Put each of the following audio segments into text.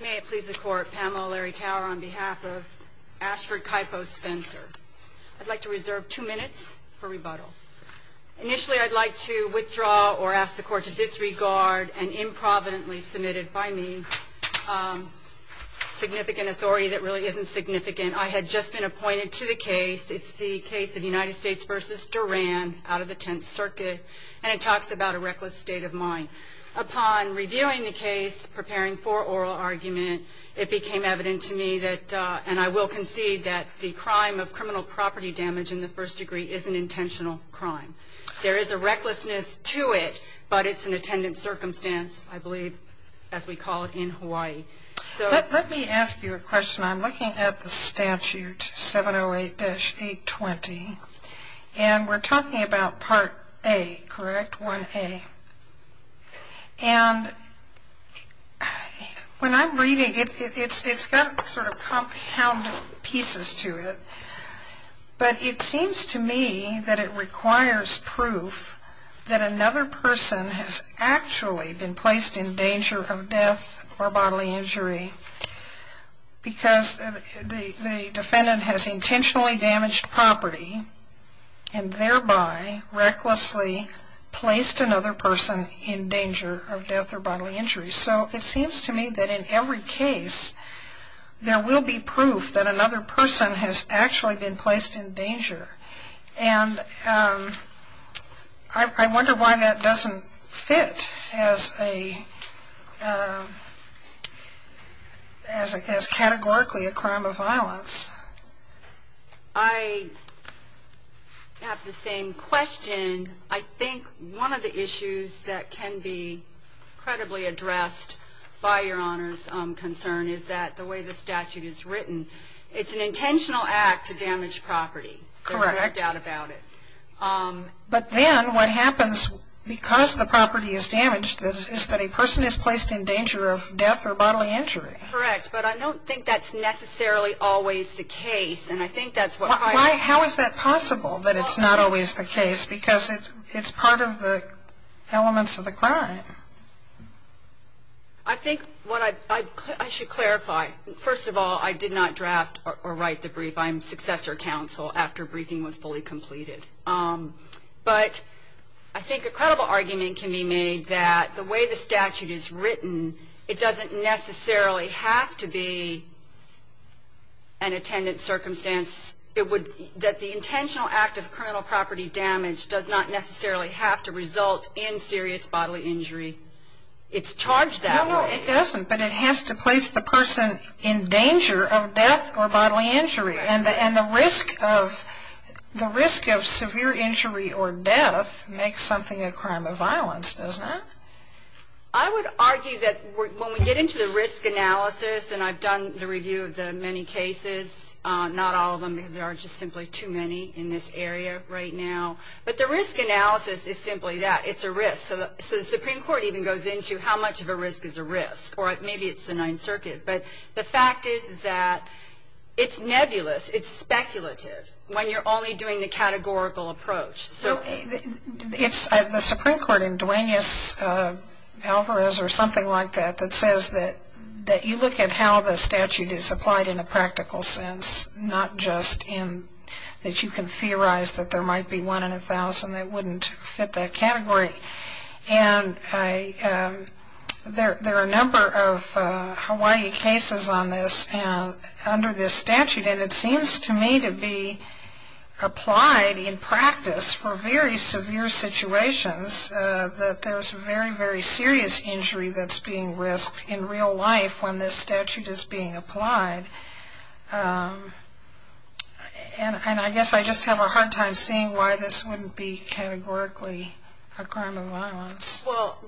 May it please the court, Pamela Larry Tower on behalf of Ashford Kaipo Spencer. I'd like to reserve two minutes for rebuttal. Initially I'd like to withdraw or ask the court to disregard an improvidently submitted by me significant authority that really isn't significant. I had just been appointed to the case. It's the case of United States v. Duran out of the Tenth Circuit and it became evident to me and I will concede that the crime of criminal property damage in the first degree is an intentional crime. There is a recklessness to it but it's an attendant circumstance I believe as we call it in Hawaii. Let me ask you a question. I'm looking at the statute 708-820 and we're talking about Part A, correct? 1A. And when I'm reading it, it's got sort of compound pieces to it. But it seems to me that it requires proof that another person has actually been placed in danger of death or bodily injury because the defendant has intentionally damaged property and thereby recklessly placed another person in danger of death or bodily injury. So it seems to me that in every case there will be proof that another person has actually been placed in danger. And I wonder why that doesn't fit as a as categorically a crime of violence. I have the same question. I think one of the issues that can be credibly addressed by Your Honor's concern is that the way the statute is written, it's an intentional act to damage property. Correct. There's no doubt about it. But then what happens because the property is damaged is that a person is placed in danger of death or bodily injury. Correct. But I don't think that's necessarily always the case. How is that possible that it's not always the case because it's part of the elements of the crime? I think I should clarify. First of all, I did not draft or write the brief. I'm successor counsel after briefing was fully completed. But I think a credible argument can be made that the way the statute is written, it doesn't necessarily have to be an attendant circumstance. It would that the intentional act of criminal property damage does not necessarily have to result in serious bodily injury. It's charged that way. It doesn't, but it has to place the person in danger of death or bodily injury. And the risk of severe injury or death makes something a crime of violence, doesn't it? I would argue that when we get into the risk analysis, and I've done the review of the many cases, not all of them because there are just simply too many in this area right now. But the risk analysis is simply that. It's a risk. So the Supreme Court even goes into how much of a risk is a risk. Or maybe it's the Ninth Circuit. But the fact is that it's nebulous. It's speculative when you're only doing the categorical approach. The Supreme Court in Duenas-Alvarez or something like that, that says that you look at how the statute is applied in a practical sense, not just that you can theorize that there might be one in a thousand that wouldn't fit that category. And there are a number of Hawaii cases on this under this statute. And it seems to me to be applied in practice for very severe situations that there's very, very serious injury that's being risked in real life when this statute is being applied. And I guess I just have a hard time seeing why this wouldn't be categorically a crime of violence. Well,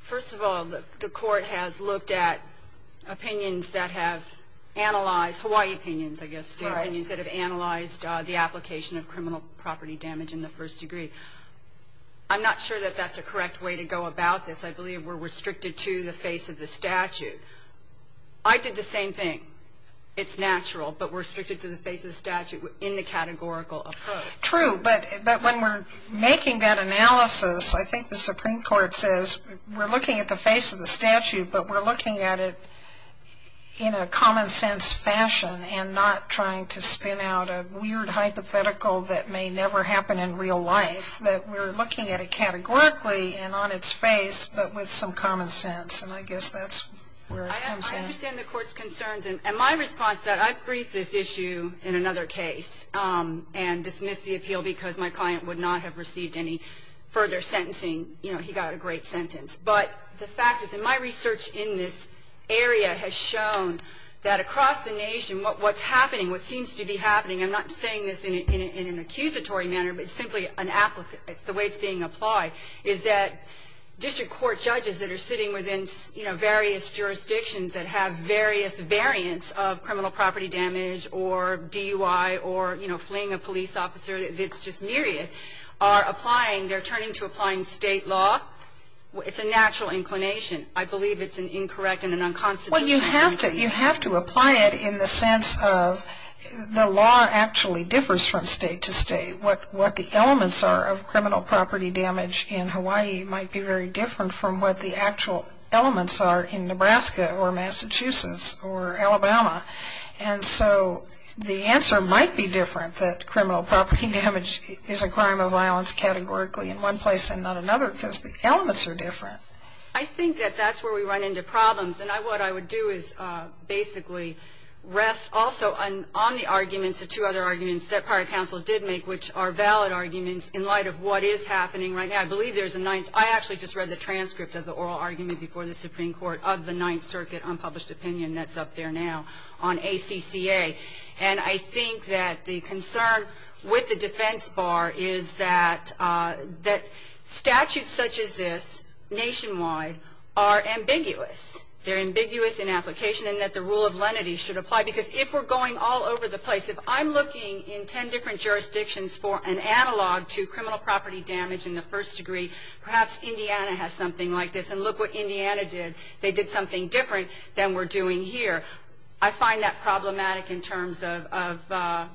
first of all, the Court has looked at opinions that have analyzed, Hawaii opinions I guess, the opinions that have analyzed the application of criminal property damage in the first degree. I'm not sure that that's a correct way to go about this. I believe we're restricted to the face of the statute. I did the same thing. It's natural, but we're restricted to the face of the statute in the categorical approach. True, but when we're making that analysis, I think the Supreme Court says, we're looking at the face of the statute, but we're looking at it in a common sense fashion and not trying to spin out a weird hypothetical that may never happen in real life, that we're looking at it categorically and on its face, but with some common sense. And I guess that's where it comes in. I understand the Court's concerns. And my response to that, I've briefed this issue in another case and dismissed the appeal because my client would not have received any further sentencing. You know, he got a great sentence. But the fact is, and my research in this area has shown that across the nation, what's happening, what seems to be happening, I'm not saying this in an accusatory manner, but simply the way it's being applied, is that district court judges that are sitting within various jurisdictions that have various variants of criminal property damage or DUI or fleeing a police officer that's just myriad, are applying, they're turning to applying state law. It's a natural inclination. I believe it's an incorrect and an unconstitutional thing. Well, you have to apply it in the sense of the law actually differs from state to state. What the elements are of criminal property damage in Hawaii might be very different from what the actual elements are in Nebraska or Massachusetts or Alabama. And so the answer might be different that criminal property damage is a crime of violence categorically in one place and not another because the elements are different. I think that that's where we run into problems. And what I would do is basically rest also on the arguments, the two other arguments that prior counsel did make, which are valid arguments in light of what is happening right now. I believe there's a ninth. I actually just read the transcript of the oral argument before the Supreme Court of the Ninth Circuit unpublished opinion that's up there now on ACCA. And I think that the concern with the defense bar is that statutes such as this nationwide are ambiguous. They're ambiguous in application and that the rule of lenity should apply. Because if we're going all over the place, if I'm looking in ten different jurisdictions for an analog to criminal property damage in the first degree, perhaps Indiana has something like this. And look what Indiana did. They did something different than we're doing here. I find that problematic in terms of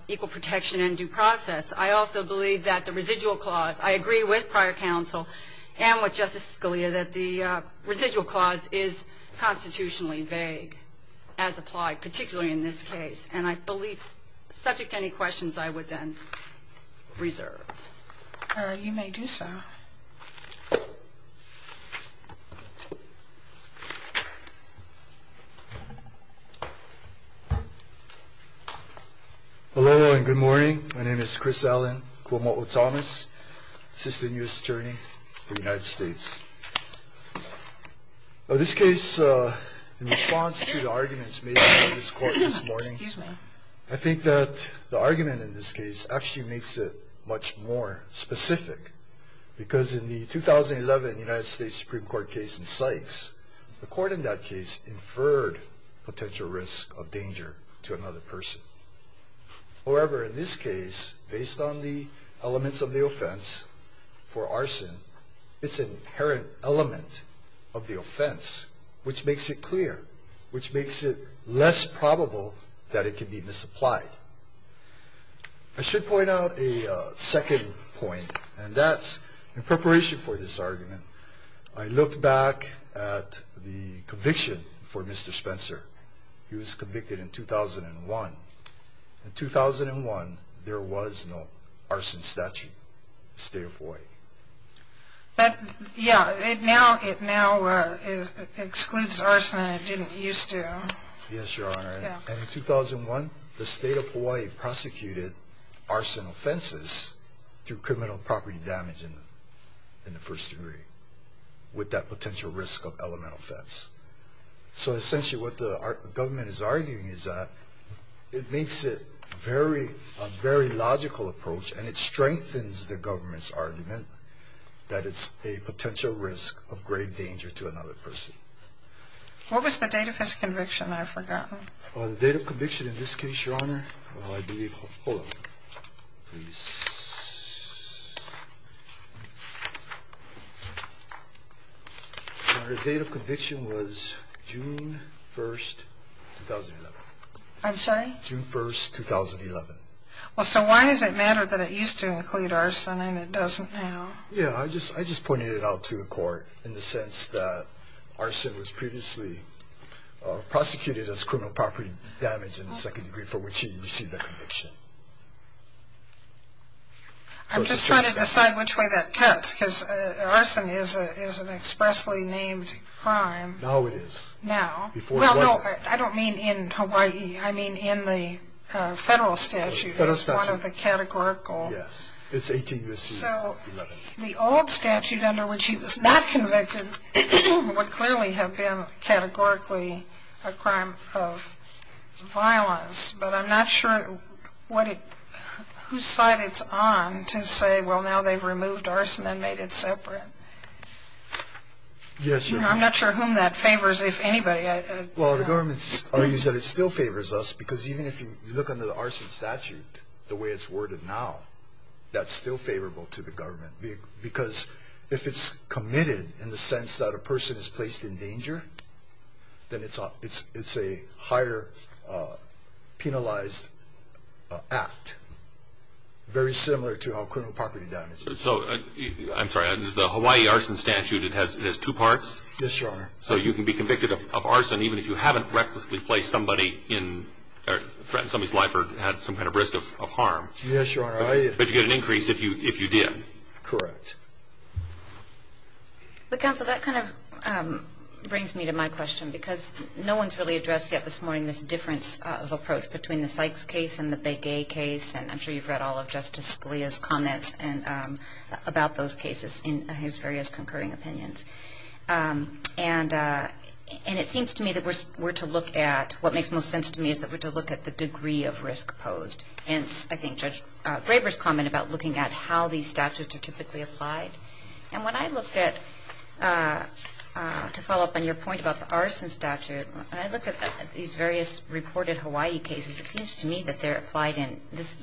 equal protection and due process. I also believe that the residual clause, I agree with prior counsel and with Justice Scalia that the residual clause is constitutionally vague as applied, particularly in this case. And I believe, subject to any questions, I would then reserve. You may do so. Aloha and good morning. My name is Chris Allen Kuomo'o Thomas, Assistant U.S. Attorney for the United States. This case, in response to the arguments made by this court this morning, I think that the argument in this case actually makes it much more specific. Because in the 2011 United States Supreme Court case in Sykes, the court in that case inferred potential risk of danger to another person. However, in this case, based on the elements of the offense for arson, it's an inherent element of the offense, which makes it clear, which makes it less probable that it can be misapplied. I should point out a second point, and that's in preparation for this argument, I looked back at the conviction for Mr. Spencer. He was convicted in 2001. In 2001, there was no arson statute in the state of Hawaii. Yeah, it now excludes arson. Yes, Your Honor. And in 2001, the state of Hawaii prosecuted arson offenses through criminal property damage in the first degree, with that potential risk of element offense. So essentially what the government is arguing is that it makes it a very logical approach, and it strengthens the government's argument that it's a potential risk of grave danger to another person. What was the date of his conviction? I've forgotten. The date of conviction in this case, Your Honor, I believe, hold on, please. Your Honor, the date of conviction was June 1, 2011. I'm sorry? June 1, 2011. Well, so why does it matter that it used to include arson and it doesn't now? Yeah, I just pointed it out to the court in the sense that arson was previously prosecuted as criminal property damage in the second degree for which he received the conviction. I'm just trying to decide which way that cuts, because arson is an arson. Well, no, I don't mean in Hawaii. I mean in the federal statute. The federal statute. It's one of the categorical. Yes, it's 18-11. So the old statute under which he was not convicted would clearly have been categorically a crime of violence, but I'm not sure whose side it's on to say, well, now they've removed arson and made it separate. I'm not sure whom that favors, if anybody. Well, the government argues that it still favors us, because even if you look under the arson statute, the way it's worded now, that's still favorable to the government, because if it's committed in the sense that a person is placed in danger, then it's a higher penalized act, very similar to how criminal property damage is. So, I'm sorry, the Hawaii arson statute, it has two parts? Yes, Your Honor. So you can be convicted of arson even if you haven't recklessly placed somebody in or threatened somebody's life or had some kind of risk of harm. Yes, Your Honor. But you get an increase if you did. Correct. But, counsel, that kind of brings me to my question, because no one's really addressed yet this morning this difference of approach between the Sykes case and the Begay case, and I'm sure you've read all of Justice Scalia's comments about those cases in his various concurring opinions. And it seems to me that we're to look at, what makes most sense to me is that we're to look at the degree of risk to the extent to which these cases are proposed. Hence, I think Judge Graber's comment about looking at how these statutes are typically applied. And when I looked at, to follow up on your point about the arson statute, when I looked at these various reported Hawaii cases, it seems to me that they're applied in this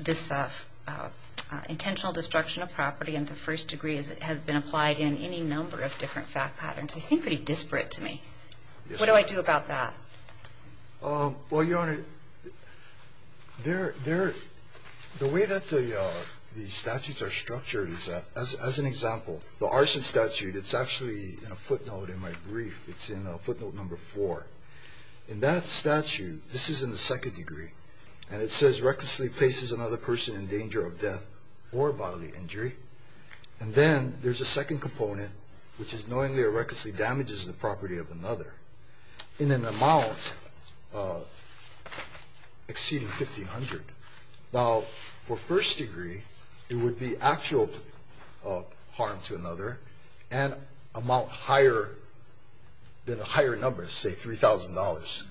intentional destruction of property in the first degree as it has been applied in any number of different fact patterns. They seem pretty disparate to me. What do I do about that? Well, Your Honor, the way that the statutes are structured is that, as an example, the arson statute, it's actually in a footnote in my brief. It's in footnote number four. In that statute, this is in the second degree, and it says, recklessly places another person in danger of death or bodily injury. And then there's a second component, which is knowingly or recklessly damages the property of another in an amount exceeding $1,500. Now, for first degree, it would be actual harm to another and amount higher than a higher number, say $3,000.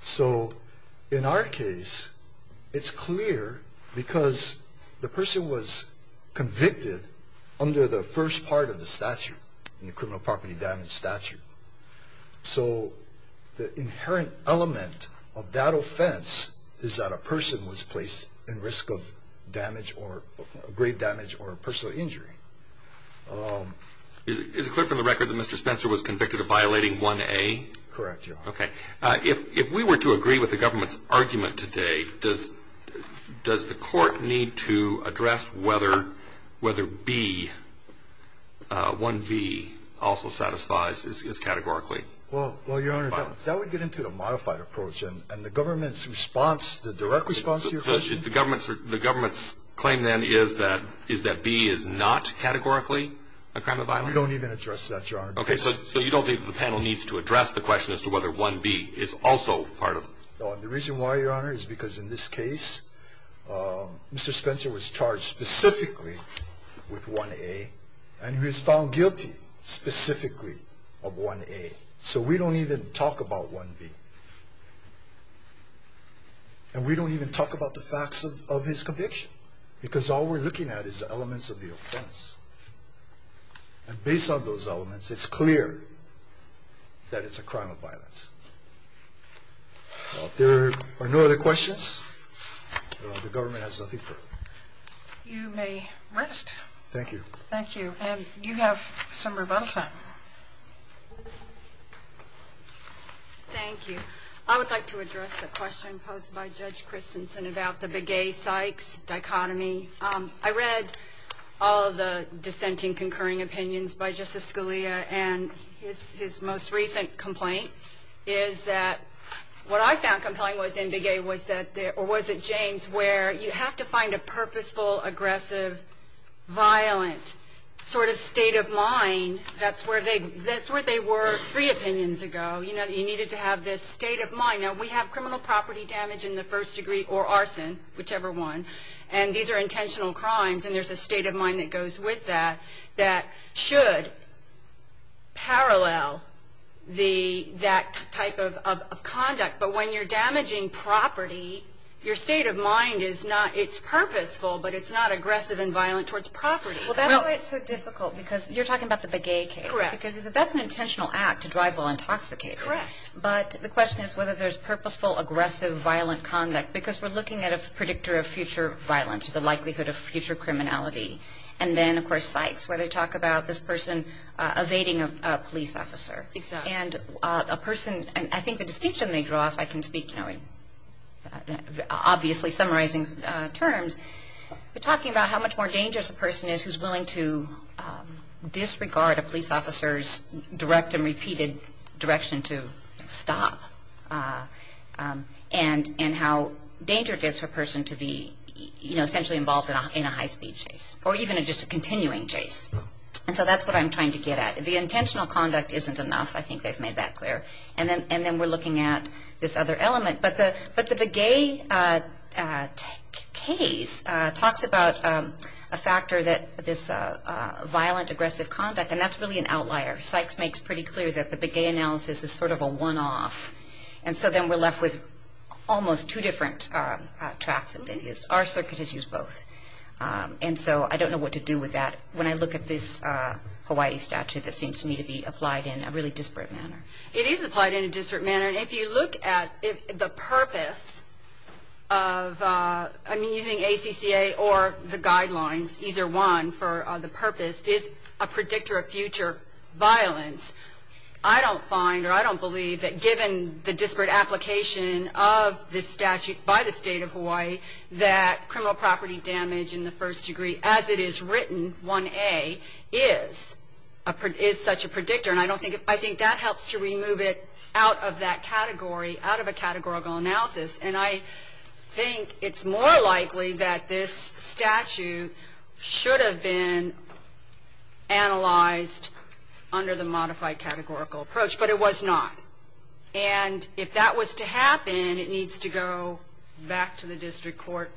So in our case, it's clear because the person was convicted under the first part of the statute, in the criminal property damage statute. So the inherent element of that offense is that a person was placed in risk of grave damage or personal injury. Is it clear from the record that Mr. Spencer was convicted of violating 1A? Correct, Your Honor. Okay. If we were to agree with the government's argument today, does the Court need to address whether B, 1B, also satisfies as categorically? Well, Your Honor, that would get into the modified approach. And the government's response, the direct response to your question? The government's claim then is that B is not categorically a crime of violence? We don't even address that, Your Honor. Okay. So you don't think the panel needs to address the question as to whether 1B is also part of it? No, and the reason why, Your Honor, is because in this case, Mr. Spencer was charged specifically with 1A, and he was found guilty specifically of 1A. So we don't even talk about 1B. And we don't even talk about the facts of his conviction because all we're looking at is the elements of the offense. And based on those elements, it's clear that it's a crime of violence. If there are no other questions, the government has nothing further. You may rest. Thank you. Thank you. And you have some rebuttal time. Thank you. I would like to address the question posed by Judge Christensen about the Begay-Sykes dichotomy. I read all of the dissenting, concurring opinions by Justice Scalia, and his most recent complaint is that what I found compelling was in Begay was that there or was it James, where you have to find a purposeful, aggressive, violent sort of state of mind. That's where they were three opinions ago. You know, you needed to have this state of mind. Now, we have criminal property damage in the first degree or arson, whichever one, and these are intentional crimes, and there's a state of mind that goes with that that should parallel that type of conduct. But when you're damaging property, your state of mind is not, it's purposeful, but it's not aggressive and violent towards property. Well, that's why it's so difficult because you're talking about the Begay case. Correct. Because that's an intentional act to drive while intoxicated. Correct. But the question is whether there's purposeful, aggressive, violent conduct because we're looking at a predictor of future violence, the likelihood of future criminality. And then, of course, Sykes, where they talk about this person evading a police officer. Exactly. And a person, I think the distinction they draw, if I can speak, you know, in obviously summarizing terms, they're talking about how much more dangerous a person is who's willing to disregard a police officer's direct and repeated direction to stop, and how dangerous it is for a person to be, you know, essentially involved in a high-speed chase, or even just a continuing chase. And so that's what I'm trying to get at. The intentional conduct isn't enough. I think they've made that clear. And then we're looking at this other element. But the Begay case talks about a factor that this violent, aggressive conduct, and that's really an outlier. Sykes makes pretty clear that the Begay analysis is sort of a one-off. And so then we're left with almost two different tracks that they've used. Our circuit has used both. And so I don't know what to do with that when I look at this Hawaii statute that seems to me to be applied in a really disparate manner. It is applied in a disparate manner. And if you look at the purpose of, I mean, using ACCA or the guidelines, either one for the purpose, is a predictor of future violence, I don't find or I don't believe that given the disparate application of this statute by the State of Hawaii, that criminal property damage in the first degree as it is written, 1A, is such a predictor. And I think that helps to remove it out of that category, out of a categorical analysis. And I think it's more likely that this statute should have been analyzed under the modified categorical approach, but it was not. And if that was to happen, it needs to go back to the district court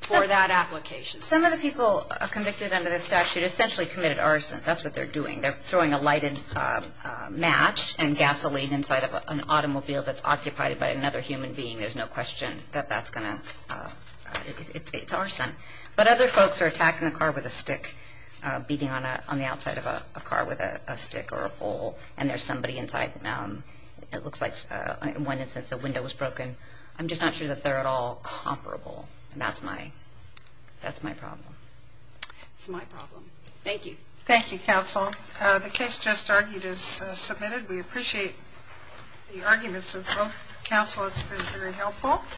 for that application. Some of the people convicted under this statute essentially committed arson. That's what they're doing. They're throwing a lighted match and gasoline inside of an automobile that's occupied by another human being. There's no question that that's going to – it's arson. But other folks are attacking a car with a stick, beating on the outside of a car with a stick or a pole, and there's somebody inside. It looks like in one instance a window was broken. I'm just not sure that they're at all comparable, and that's my problem. That's my problem. Thank you. Thank you, counsel. The case just argued is submitted. We appreciate the arguments of both counsel. It's been very helpful.